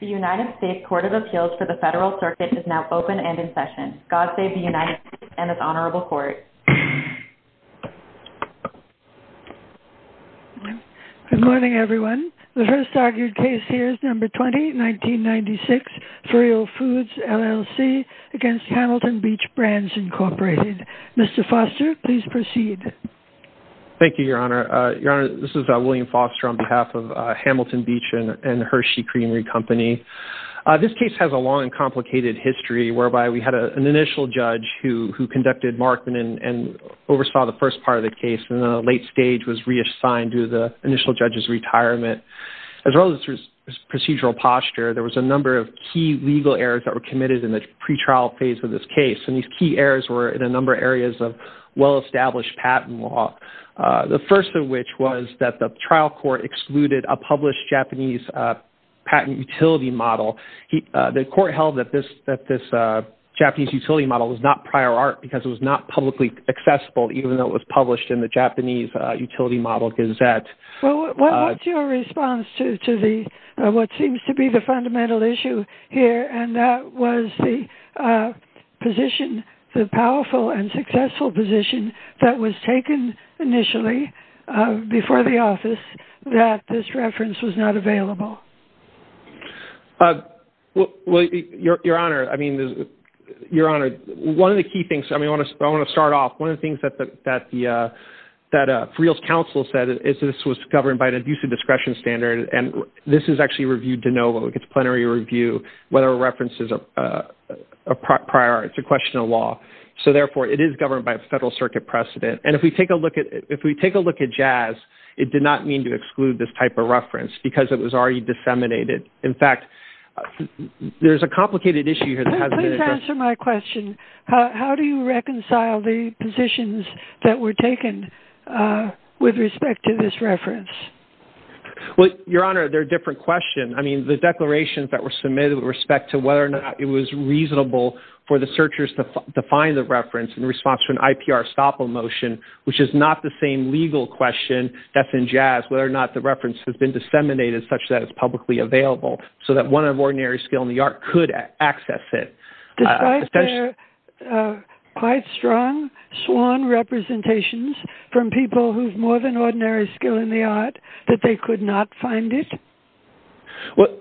The United States Court of Appeals for the Federal Circuit is now open and in session. God save the United States and this honorable court. Good morning, everyone. The first argued case here is number 20, 1996, v'real Foods LLC against Hamilton Beach Brands, Inc. Mr. Foster, please proceed. Thank you, Your Honor. Your Honor, this is William Foster on behalf of Hamilton Beach and Hershey Creamery Company. This case has a long and complicated history whereby we had an initial judge who conducted Markman and oversaw the first part of the case and the late stage was reassigned to the initial judge's retirement. As well as procedural posture, there was a number of key legal errors that were committed in the pretrial phase of this case. And these key errors were in a number of areas of well-established patent law. The first of which was that the trial court excluded a published Japanese patent utility model. The court held that this Japanese utility model was not prior art because it was not publicly accessible even though it was published in the Japanese Utility Model Gazette. What's your response to what seems to be fundamental issue here and that was the position, the powerful and successful position that was taken initially before the office that this reference was not available? Well, Your Honor, I mean, Your Honor, one of the key things, I mean, I want to start off, one of the things that v'real's counsel said is this was governed by an abusive discretion standard. And this is actually reviewed to know whether it gets plenary review, whether a reference is a prior art, it's a question of law. So therefore it is governed by a federal circuit precedent. And if we take a look at, if we take a look at Jazz, it did not mean to exclude this type of reference because it was already disseminated. In fact, there's a complicated issue here that hasn't been addressed. Please answer my question. How do you reconcile the positions that were taken with respect to this reference? Well, Your Honor, they're a different question. I mean, the declarations that were submitted with respect to whether or not it was reasonable for the searchers to find the reference in response to an IPR stop motion, which is not the same legal question that's in Jazz, whether or not the reference has been disseminated such that it's publicly available so that one of ordinary skill in the art could access it. Quite strong swan representations from people who've more than ordinary skill in the art that they could not find it. Well,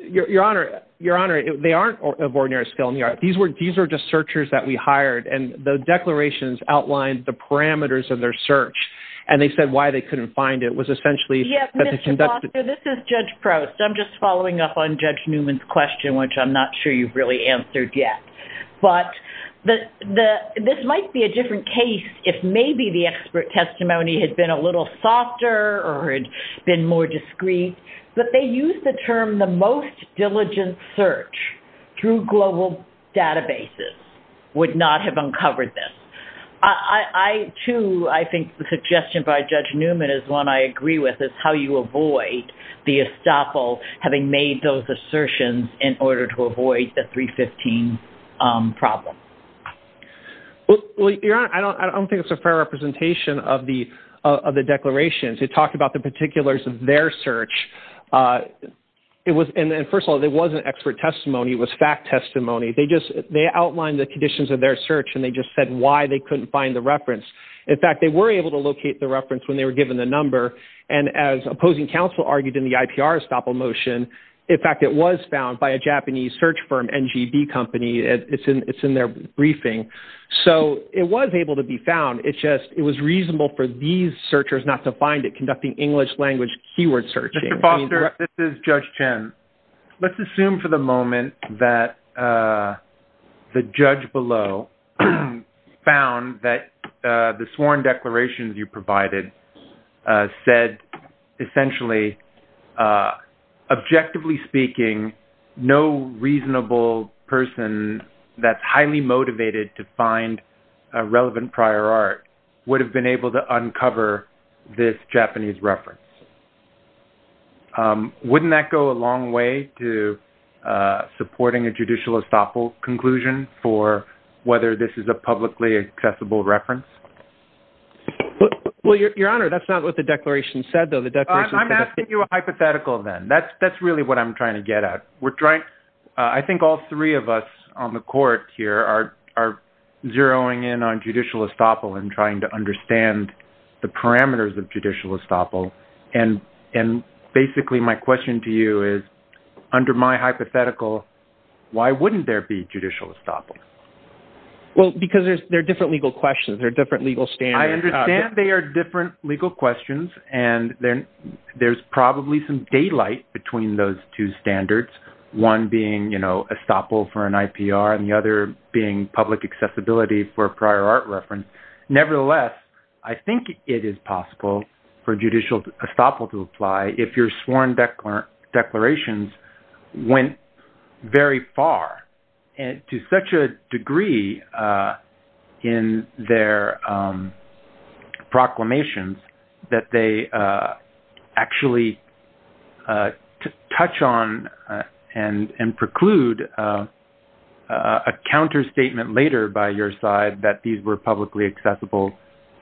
Your Honor, Your Honor, they aren't of ordinary skill in the art. These were just searchers that we hired and the declarations outlined the parameters of their search. And they said why they couldn't find it was essentially. This is Judge Prost. I'm just following up on Judge Newman's question, which I'm not sure you've really answered yet. But this might be a different case if maybe the expert testimony had been a little softer or had been more discreet. But they used the term the most diligent search through global databases would not have uncovered this. I, too, I think the suggestion by Judge Newman is one I agree with is how you avoid the estoppel having made those 315 problem. Well, Your Honor, I don't think it's a fair representation of the declarations. It talked about the particulars of their search. It was and first of all, it wasn't expert testimony. It was fact testimony. They just they outlined the conditions of their search, and they just said why they couldn't find the reference. In fact, they were able to locate the reference when they were given the number. And as opposing counsel argued in the IPR estoppel motion. In fact, it was found by Japanese search firm NGB company. It's in it's in their briefing. So it was able to be found. It's just it was reasonable for these searchers not to find it conducting English language keyword searching. Mr. Foster, this is Judge Chen. Let's assume for the moment that the judge below found that the sworn declarations you provided said, essentially, uh, objectively speaking, no reasonable person that's highly motivated to find a relevant prior art would have been able to uncover this Japanese reference. Wouldn't that go a long way to supporting a judicial estoppel conclusion for whether this is a publicly accessible reference? Well, Your Honor, that's not what the declaration said, I'm asking you a hypothetical, then that's that's really what I'm trying to get at. We're trying. I think all three of us on the court here are are zeroing in on judicial estoppel and trying to understand the parameters of judicial estoppel. And and basically, my question to you is, under my hypothetical, why wouldn't there be judicial estoppel? Well, because there's there are different legal questions. There are different legal standards. I understand they are different legal questions. And then there's probably some daylight between those two standards, one being, you know, estoppel for an IPR and the other being public accessibility for prior art reference. Nevertheless, I think it is possible for judicial estoppel to apply if your proclamations that they actually touch on and preclude a counter statement later by your side that these were publicly accessible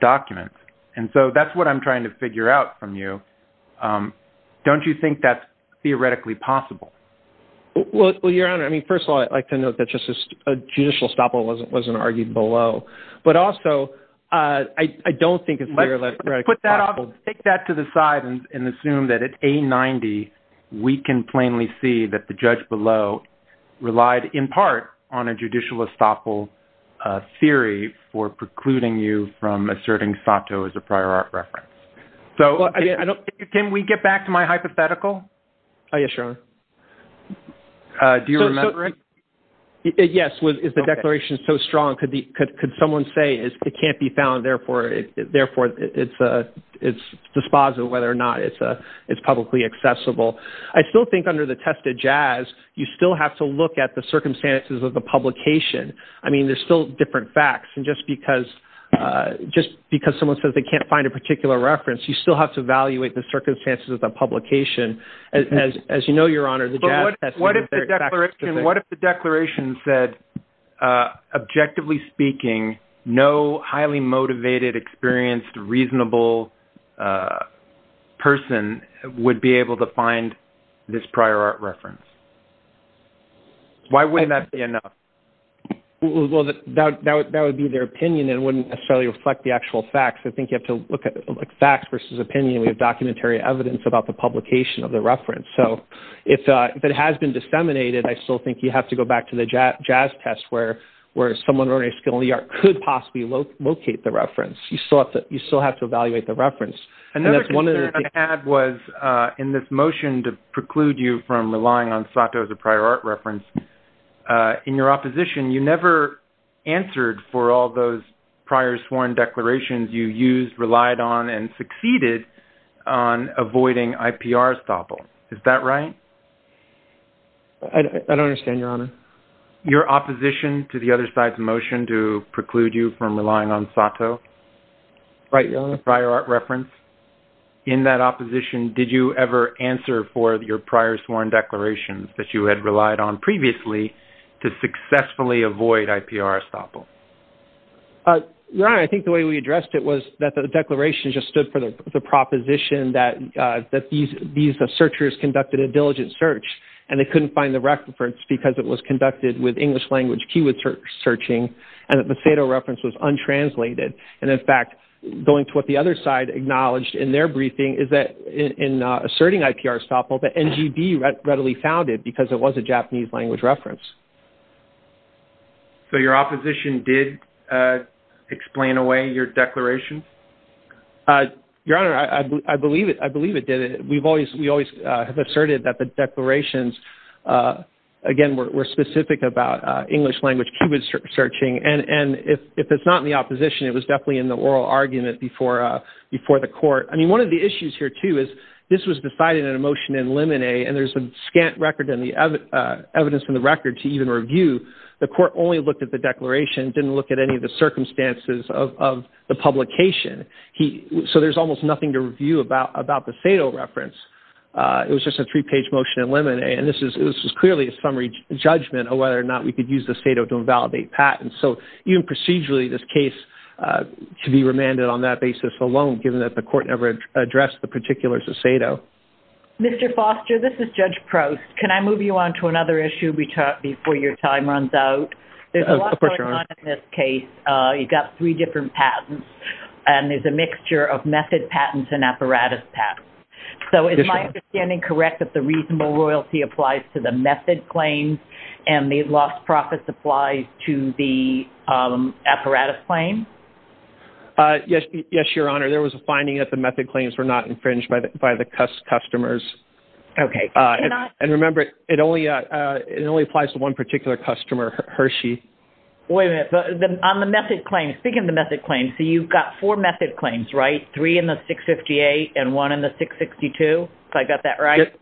documents. And so that's what I'm trying to figure out from you. Don't you think that's theoretically possible? Well, Your Honor, I mean, first of all, I'd like I don't think it's like that. I'll take that to the side and assume that it's a 90. We can plainly see that the judge below relied in part on a judicial estoppel theory for precluding you from asserting Sato as a prior art reference. So can we get back to my hypothetical? I assure you. Do you remember it? Yes. Is the declaration so strong? Could the could someone say it can't be found? Therefore, it's dispositive whether or not it's publicly accessible. I still think under the test of jazz, you still have to look at the circumstances of the publication. I mean, there's still different facts. And just because just because someone says they can't find a particular reference, you still have to evaluate the circumstances of the publication. As you know, what if the declaration said, objectively speaking, no highly motivated, experienced, reasonable person would be able to find this prior art reference? Why wouldn't that be enough? Well, that would be their opinion and wouldn't necessarily reflect the actual facts. I think you have to look at like facts versus opinion. We have documentary evidence about the publication of the reference. So if it has been disseminated, I still think you have to go back to the jazz test where someone already skilled in the art could possibly locate the reference. You still have to evaluate the reference. Another concern I had was in this motion to preclude you from relying on Sato as a prior art reference. In your opposition, you never answered for all those prior sworn declarations you used, relied on, and succeeded on avoiding IPR estoppel. Is that right? I don't understand, Your Honor. Your opposition to the other side's motion to preclude you from relying on Sato? Right, Your Honor. Prior art reference. In that opposition, did you ever answer for your prior sworn declarations that you had relied on previously to successfully avoid IPR estoppel? Your Honor, I think the way we addressed it was that the declaration just stood for the proposition that these searchers conducted a diligent search and they couldn't find the reference because it was conducted with English language keyword searching and that the Sato reference was untranslated. And in fact, going to what the other side acknowledged in their briefing is that in asserting IPR estoppel, the NGB readily found it because it was a Japanese language reference. So your opposition did explain away your declaration? Your Honor, I believe it did. We always have asserted that the declarations, again, were specific about English language keyword searching. And if it's not in the opposition, it was definitely in the oral argument before the court. I mean, one of the issues here, too, is this was decided in a motion in Lemonet and there's a scant record and the evidence from the record to even review. The court only looked at the declaration, didn't look at any of the circumstances of the publication. So there's almost nothing to review about the Sato reference. It was just a three-page motion in Lemonet and this is clearly a summary judgment of whether or not we could use the Sato to invalidate patents. So even procedurally, this case should be remanded on that basis alone, given that the court never addressed the particulars of Sato. Mr. Foster, this is Judge Prost. Can I move you on to another issue before your time runs out? There's a lot going on in this case. You've got three different patents and there's a mixture of method patents and apparatus patents. So is my understanding correct that the reasonable royalty applies to the method claims and the lost profits applies to the apparatus claim? Yes, Your Honor. There was a finding that the method claims were not infringed by the customers. Okay. And remember, it only applies to one particular customer, Hershey. Wait a minute. On the method claims, speaking of the method claims, so you've got four method claims, right? Three in the 658 and one in the 662, if I got that right?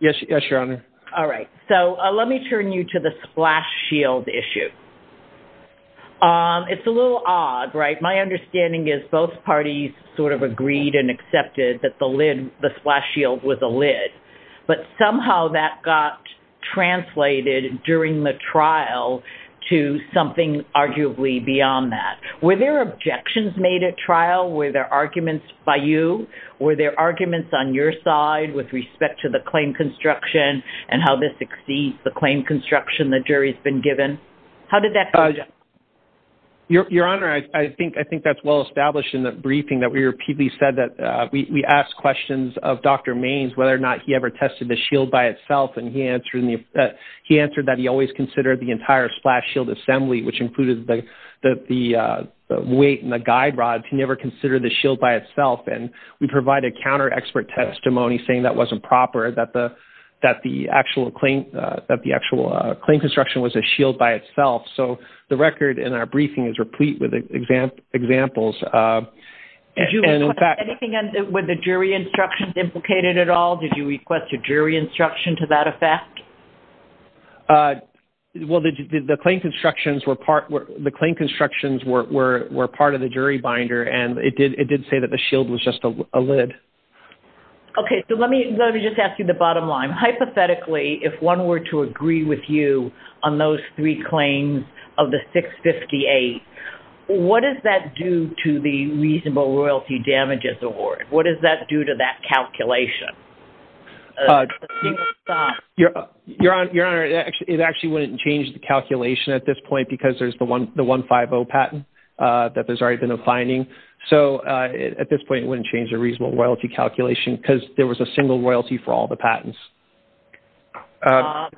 Yes, Your Honor. All right. So let me turn you to the splash shield issue. It's a little odd, right? My understanding is both parties sort of agreed and accepted that the splash shield was a lid, but somehow that got translated during the trial to something arguably beyond that. Were there objections made at trial? Were there arguments by you? Were there arguments on your side with respect to the claim construction and how this exceeds the claim construction the jury has been given? How did that go? Your Honor, I think that's well established in the briefing that we repeatedly said that we asked questions of Dr. Maynes whether or not he ever tested the shield by itself. And he answered that he always considered the entire splash shield assembly, which included the weight and the guide rods, he never considered the shield by itself. And we provide a counter-expert testimony saying that wasn't proper, that the actual claim construction was a shield by itself. So the record in our briefing is replete with examples. Anything with the jury instructions implicated at all? Did you request a jury instruction to that effect? Well, the claim constructions were part of the jury binder, and it did say that the shield was just a lid. Okay, so let me just ask you the bottom line. Hypothetically, if one were to agree with you on those three claims of the 658, what does that do to the reasonable royalty damages award? What does that do to that calculation? Your Honor, it actually wouldn't change the calculation at this point because there's the 150 patent that there's already been a finding. So at this point, it wouldn't change the reasonable royalty calculation because there was a single royalty for all the patents. If I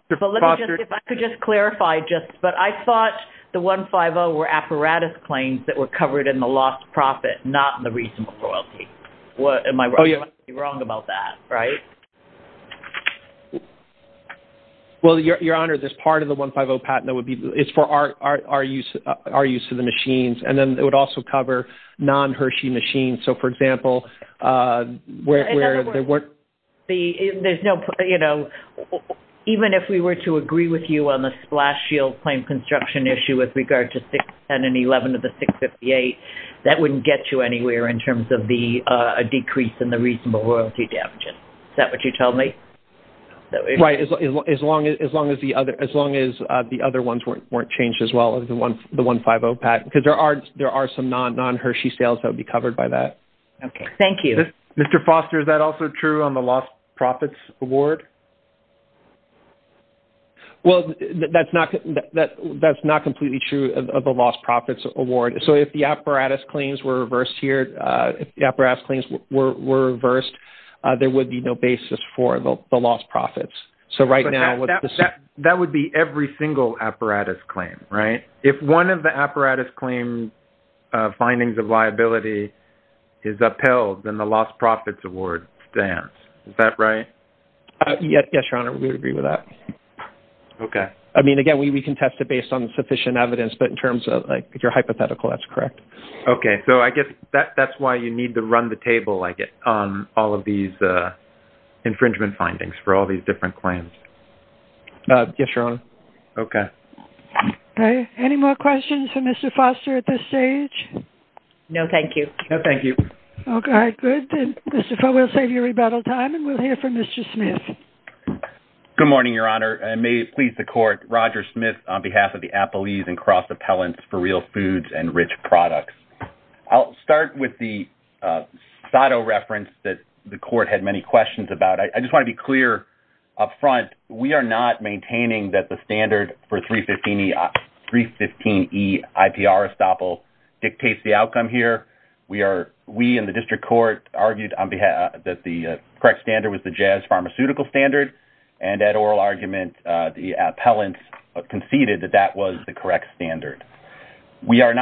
could just clarify just, but I thought the 150 were apparatus claims that were covered in the lost profit, not in the reasonable royalty. What am I wrong about that, right? Well, Your Honor, there's part of the 150 patent that would be, it's for our use of the machines, and then it would also cover non-Hershey machines. So for example, where there weren't- In other words, even if we were to agree with you on the splash shield claim construction issue with regard to 610 and 11 of the 658, that wouldn't get you anywhere in terms of a decrease in the reasonable royalty damages. Is that what you told me? Right. As long as the other ones weren't changed as well as the 150 patent, because there are some non-Hershey sales that would be covered by that. Okay. Thank you. Mr. Foster, is that also true on the lost profits award? Well, that's not completely true of the lost profits award. So if the apparatus claims were reversed, there would be no basis for the lost profits. So right now- That would be every single apparatus claim, right? If one of the apparatus claim findings of liability is upheld, then the lost profits award stands. Is that right? Yes, Your Honor. We would agree with that. Okay. I mean, again, we can test it based on sufficient evidence, but in terms of if you're hypothetical, that's correct. Okay. So I guess that's why you need to all of these infringement findings for all these different claims. Yes, Your Honor. Okay. Okay. Any more questions for Mr. Foster at this stage? No, thank you. No, thank you. Okay. Good. Mr. Foster, we'll save you rebuttal time and we'll hear from Mr. Smith. Good morning, Your Honor, and may it please the court, Roger Smith on behalf of the Appellees and Cross Appellants for Real Foods and Rich Products. I'll start with the SOTO reference that the court had many questions about. I just want to be clear up front, we are not maintaining that the standard for 315E-IPR estoppel dictates the outcome here. We in the district court argued that the correct standard was the Jazz Pharmaceutical Standard, and at oral argument, the appellants conceded that that was the correct standard. We are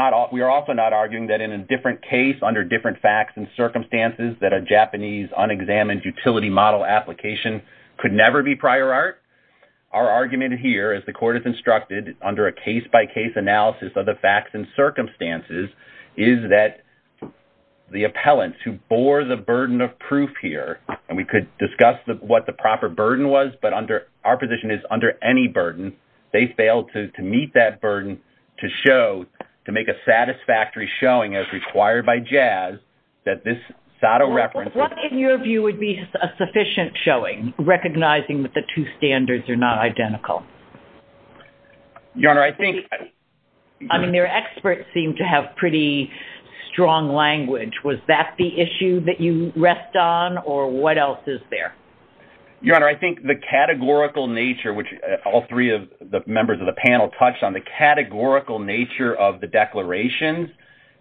also not arguing that in a different case, under different facts and circumstances, that a Japanese unexamined utility model application could never be prior art. Our argument here, as the court has instructed, under a case-by-case analysis of the facts and circumstances, is that the appellants who bore the burden of proof here, and we could discuss what the proper burden was, but our position is under any burden, they failed to meet that burden to show, to make a satisfactory showing, as required by Jazz, that this SOTO reference... What, in your view, would be a sufficient showing, recognizing that the two standards are not identical? Your Honor, I think... I mean, their experts seem to have pretty strong language. Was that the issue that you there? Your Honor, I think the categorical nature, which all three of the members of the panel touched on, the categorical nature of the declarations,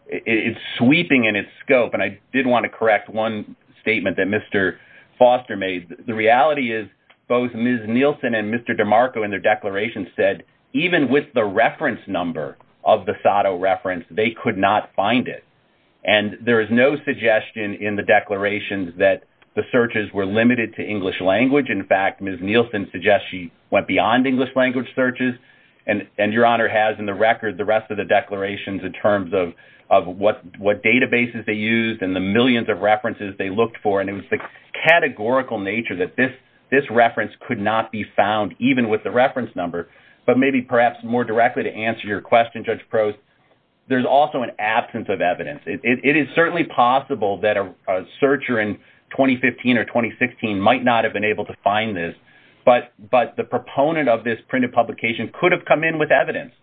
it's sweeping in its scope, and I did want to correct one statement that Mr. Foster made. The reality is both Ms. Nielsen and Mr. DeMarco, in their declarations, said even with the reference number of the SOTO reference, they could not find it, and there is no suggestion in the declarations that the searches were limited to English language. In fact, Ms. Nielsen suggests she went beyond English language searches, and Your Honor has in the record the rest of the declarations in terms of what databases they used and the millions of references they looked for, and it was the categorical nature that this reference could not be found, even with the reference number, but maybe perhaps more question, Judge Prost, there's also an absence of evidence. It is certainly possible that a searcher in 2015 or 2016 might not have been able to find this, but the proponent of this printed publication could have come in with evidence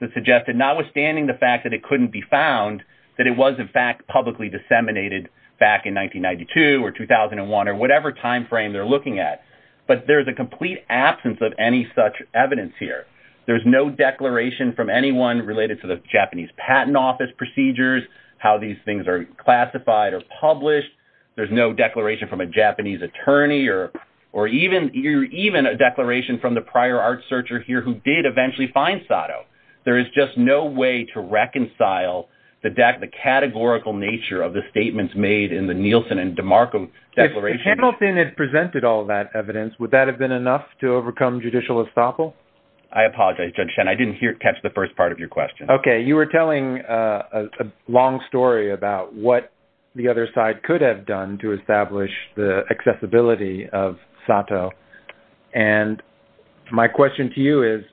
that suggested, notwithstanding the fact that it couldn't be found, that it was in fact publicly disseminated back in 1992 or 2001 or whatever time frame they're looking at, but there's a complete absence of any such evidence here. There's no declaration from anyone related to the Japanese Patent Office procedures, how these things are classified or published. There's no declaration from a Japanese attorney or even a declaration from the prior art searcher here who did eventually find SOTO. There is just no way to reconcile the categorical nature of the statements made in the Nielsen and DeMarco declarations. If Hamilton had presented all that evidence, would that have been enough to overcome judicial estoppel? I apologize, Judge Shen. I didn't catch the first part of your question. Okay. You were telling a long story about what the other side could have done to establish the accessibility of SOTO, and my question to you is,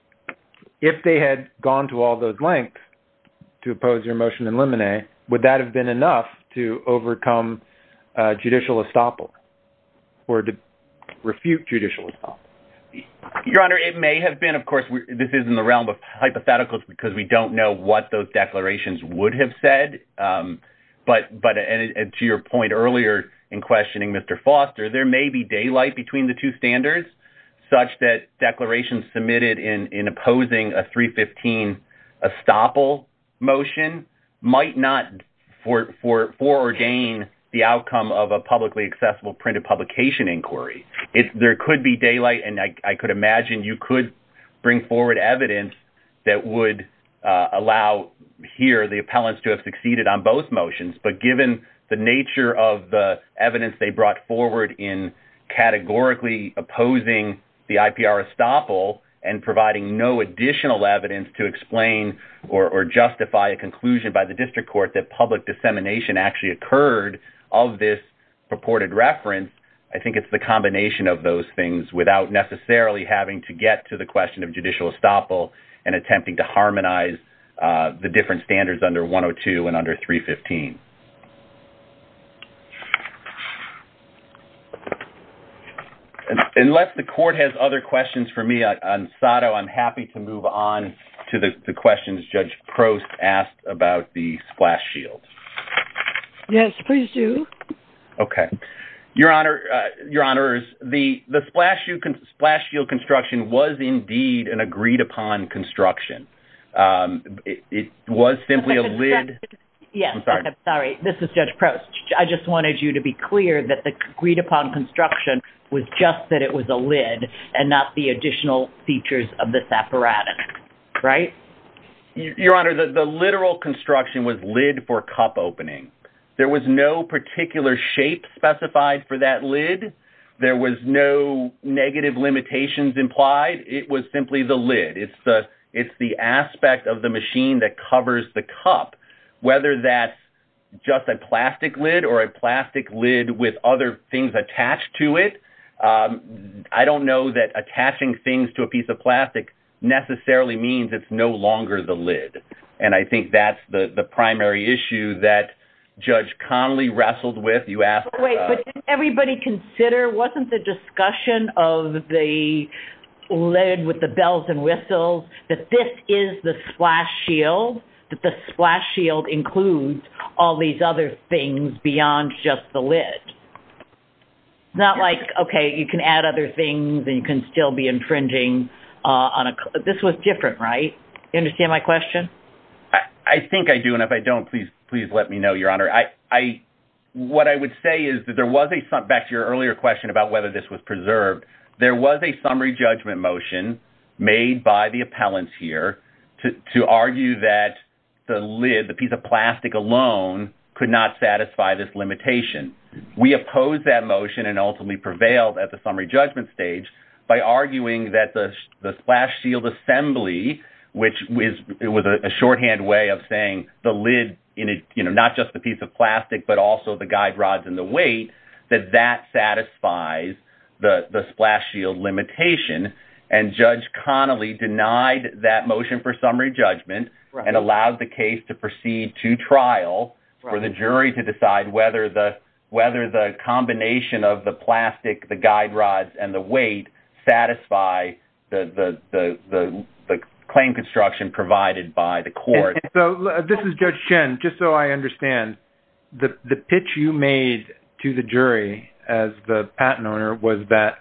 if they had gone to all those lengths to oppose your motion in Limine, would that have been enough to overcome judicial estoppel or to refute judicial estoppel? Your Honor, it may have been. Of course, this is in the realm of hypotheticals because we don't know what those declarations would have said, but to your point earlier in questioning Mr. Foster, there may be daylight between the two standards such that declarations submitted in opposing a 315 estoppel motion might not foreordain the outcome of a publicly accessible printed inquiry. There could be daylight, and I could imagine you could bring forward evidence that would allow here the appellants to have succeeded on both motions, but given the nature of the evidence they brought forward in categorically opposing the IPR estoppel and providing no additional evidence to explain or justify a conclusion by the district court that public reference, I think it's the combination of those things without necessarily having to get to the question of judicial estoppel and attempting to harmonize the different standards under 102 and under 315. Unless the court has other questions for me on SOTO, I'm happy to move on to the Your Honor, the splash shield construction was indeed an agreed-upon construction. It was simply a lid. Yes, I'm sorry. This is Judge Prost. I just wanted you to be clear that the agreed-upon construction was just that it was a lid and not the additional features of this apparatus, right? Your Honor, the literal construction was lid for cup opening. There was no particular shape specified for that lid. There was no negative limitations implied. It was simply the lid. It's the aspect of the machine that covers the cup, whether that's just a plastic lid or a plastic lid with other things attached to it. I don't know that attaching things to a piece of plastic necessarily means it's no longer the lid, and I think that's the primary issue that Judge Conley wrestled with. Wait, but didn't everybody consider, wasn't the discussion of the lid with the bells and whistles that this is the splash shield, that the splash shield includes all these other things beyond just the lid? It's not like, okay, you can add other things and you can still be infringing on a... This was different, right? You understand my question? I think I do, and if I don't, please let me know, Your Honor. What I would say is that there was a... Back to your earlier question about whether this was preserved, there was a summary judgment motion made by the appellants here to argue that the lid, the piece of plastic alone, could not satisfy this limitation. We opposed that motion and ultimately prevailed at the summary shorthand way of saying the lid, not just the piece of plastic, but also the guide rods and the weight, that that satisfies the splash shield limitation, and Judge Conley denied that motion for summary judgment and allowed the case to proceed to trial for the jury to decide whether the combination of the plastic, the guide rods, and the weight satisfy the claim construction provided by the court. This is Judge Chen. Just so I understand, the pitch you made to the jury as the patent owner was that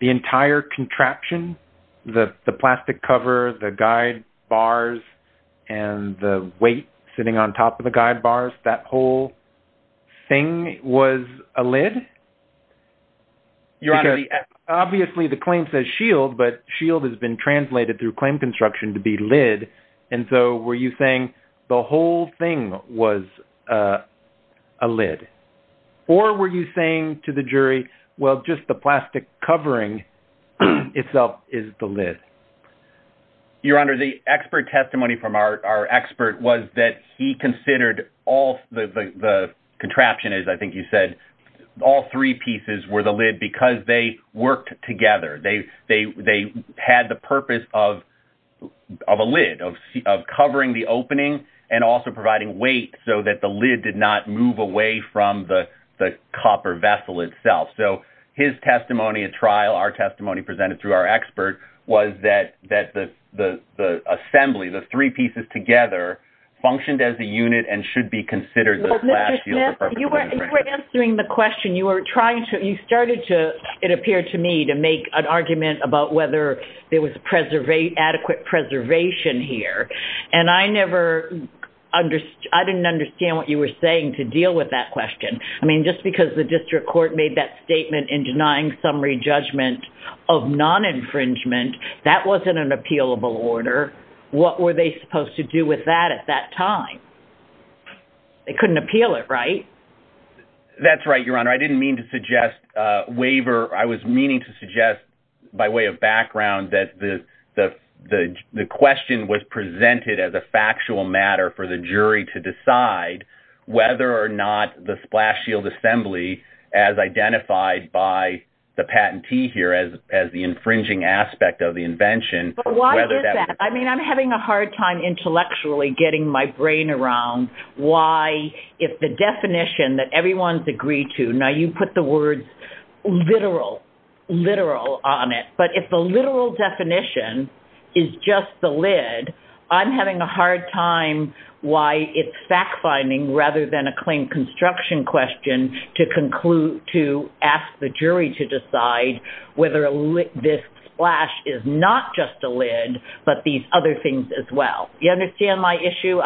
the entire contraption, the plastic cover, the guide bars, and the weight sitting on top of the guide bars, that whole thing was a lid? Obviously, the claim says shield, but shield has been translated through claim construction to be and so were you saying the whole thing was a lid? Or were you saying to the jury, well, just the plastic covering itself is the lid? Your Honor, the expert testimony from our expert was that he considered all the contraption, as I think you said, all three pieces were the lid because they worked together. They had the purpose of a lid, of covering the opening, and also providing weight so that the lid did not move away from the copper vessel itself. So his testimony at trial, our testimony presented through our expert, was that the assembly, the three pieces together, functioned as a unit and should be considered the splash shield. You were answering the question. You started to, it appeared to me, to make an argument about whether there was adequate preservation here, and I didn't understand what you were saying to deal with that question. I mean, just because the district court made that statement in denying summary judgment of non-infringement, that wasn't an appealable order. What were they supposed to with that at that time? They couldn't appeal it, right? That's right, Your Honor. I didn't mean to suggest waiver. I was meaning to suggest, by way of background, that the question was presented as a factual matter for the jury to decide whether or not the splash shield assembly, as identified by the patentee here, as the infringing aspect of the invention. Why is that? I mean, I'm having a hard time intellectually getting my brain around why, if the definition that everyone's agreed to, now you put the words literal, literal on it, but if the literal definition is just the lid, I'm having a hard time why it's fact-finding rather than a claim construction question to ask the jury to decide whether this splash is not just a lid, but these other things as well. You understand my issue?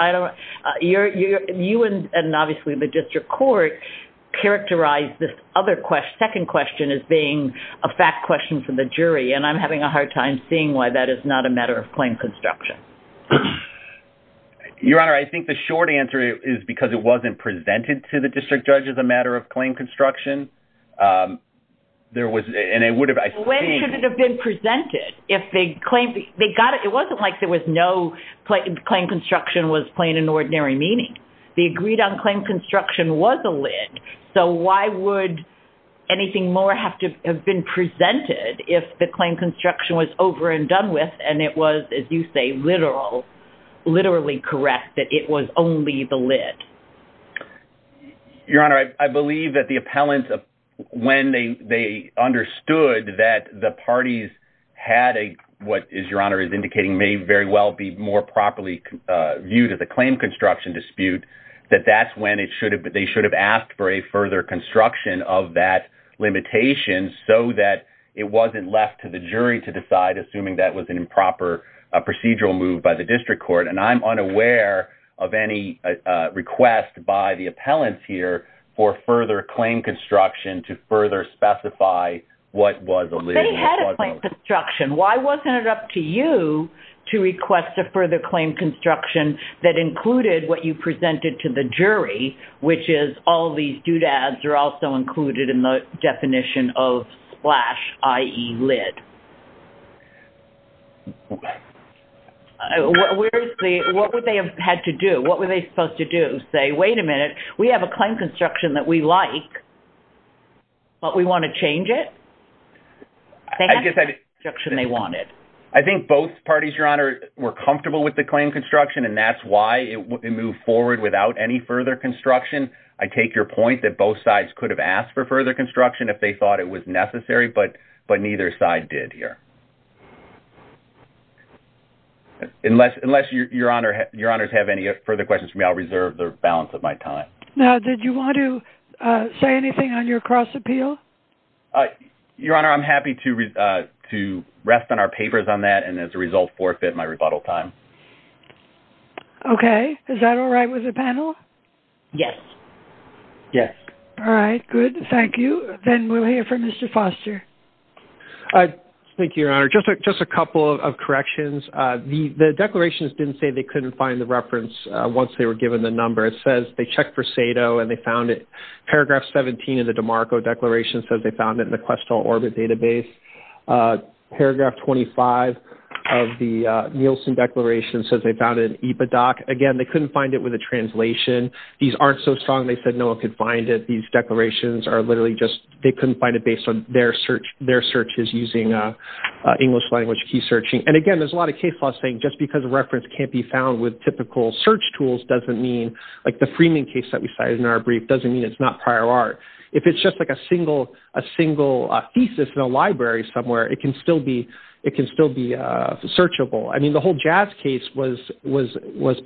You and, obviously, the district court characterized this other question, second question, as being a fact question for the jury, and I'm having a hard time seeing why that is not a matter of claim construction. Your Honor, I think the short answer is because it wasn't there was, and it would have... When should it have been presented? It wasn't like there was no claim construction was plain and ordinary meaning. The agreed-on claim construction was a lid, so why would anything more have to have been presented if the claim construction was over and done with, and it was, as you say, literally correct that it was only the lid? Your Honor, I believe that the appellants, when they understood that the parties had a... What, as Your Honor is indicating, may very well be more properly viewed as a claim construction dispute, that that's when they should have asked for a further construction of that limitation so that it wasn't left to the jury to decide, assuming that was an improper procedural move by the district court, and I'm unaware of any request by the appellants here for further claim construction to further specify what was a lid. They had a claim construction. Why wasn't it up to you to request a further claim construction that included what you presented to the jury, which is all these doodads are also included in the definition of splash, i.e. lid? What would they have had to do? What were they supposed to do? Say, wait a minute, we have a claim construction that we like, but we want to change it? I think that's the construction they wanted. I think both parties, Your Honor, were comfortable with the claim construction, and that's why it moved forward without any further construction. I take your point that both sides could have asked for further construction if they thought it was necessary, but neither side did here. Unless Your Honor has any further questions for me, I'll reserve the balance of my time. Now, did you want to say anything on your cross appeal? Your Honor, I'm happy to rest on our papers on that, and as a result, forfeit my rebuttal time. Okay. Is that all right with the panel? Yes. Yes. All right. Good. Thank you. Then we'll hear from Mr. Foster. Thank you, Your Honor. Just a couple of corrections. The declarations didn't say they couldn't find the reference once they were given the number. It says they checked for SATO and they found it. Paragraph 17 of the DeMarco Declaration says they found it in the IPA doc. Again, they couldn't find it with a translation. These aren't so strong they said no one could find it. These declarations are literally just they couldn't find it based on their searches using English language key searching. And again, there's a lot of case laws saying just because a reference can't be found with typical search tools doesn't mean, like the Freeman case that we cited in our brief, doesn't mean it's not prior art. If it's just like a single thesis in a library somewhere, it can still be searchable. I mean, the whole Jazz case was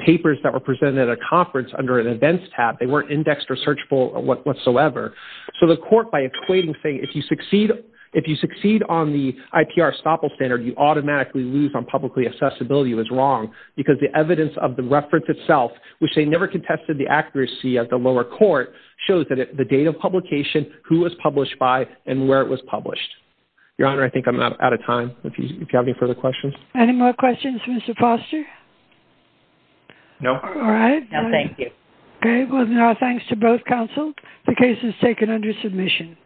papers that were presented at a conference under an events tab. They weren't indexed or searchable whatsoever. So the court, by equating, saying if you succeed on the IPR estoppel standard, you automatically lose on publicly accessibility was wrong because the evidence of the reference itself, which they never contested the accuracy at the lower court, shows that the date of publication, who was published by, and where it was published. Your Honor, I think I'm out of time. If you have any further questions. Any more questions, Mr. Foster? No. All right. No, thank you. Okay. Well, thanks to both counsel. The case is taken under submission.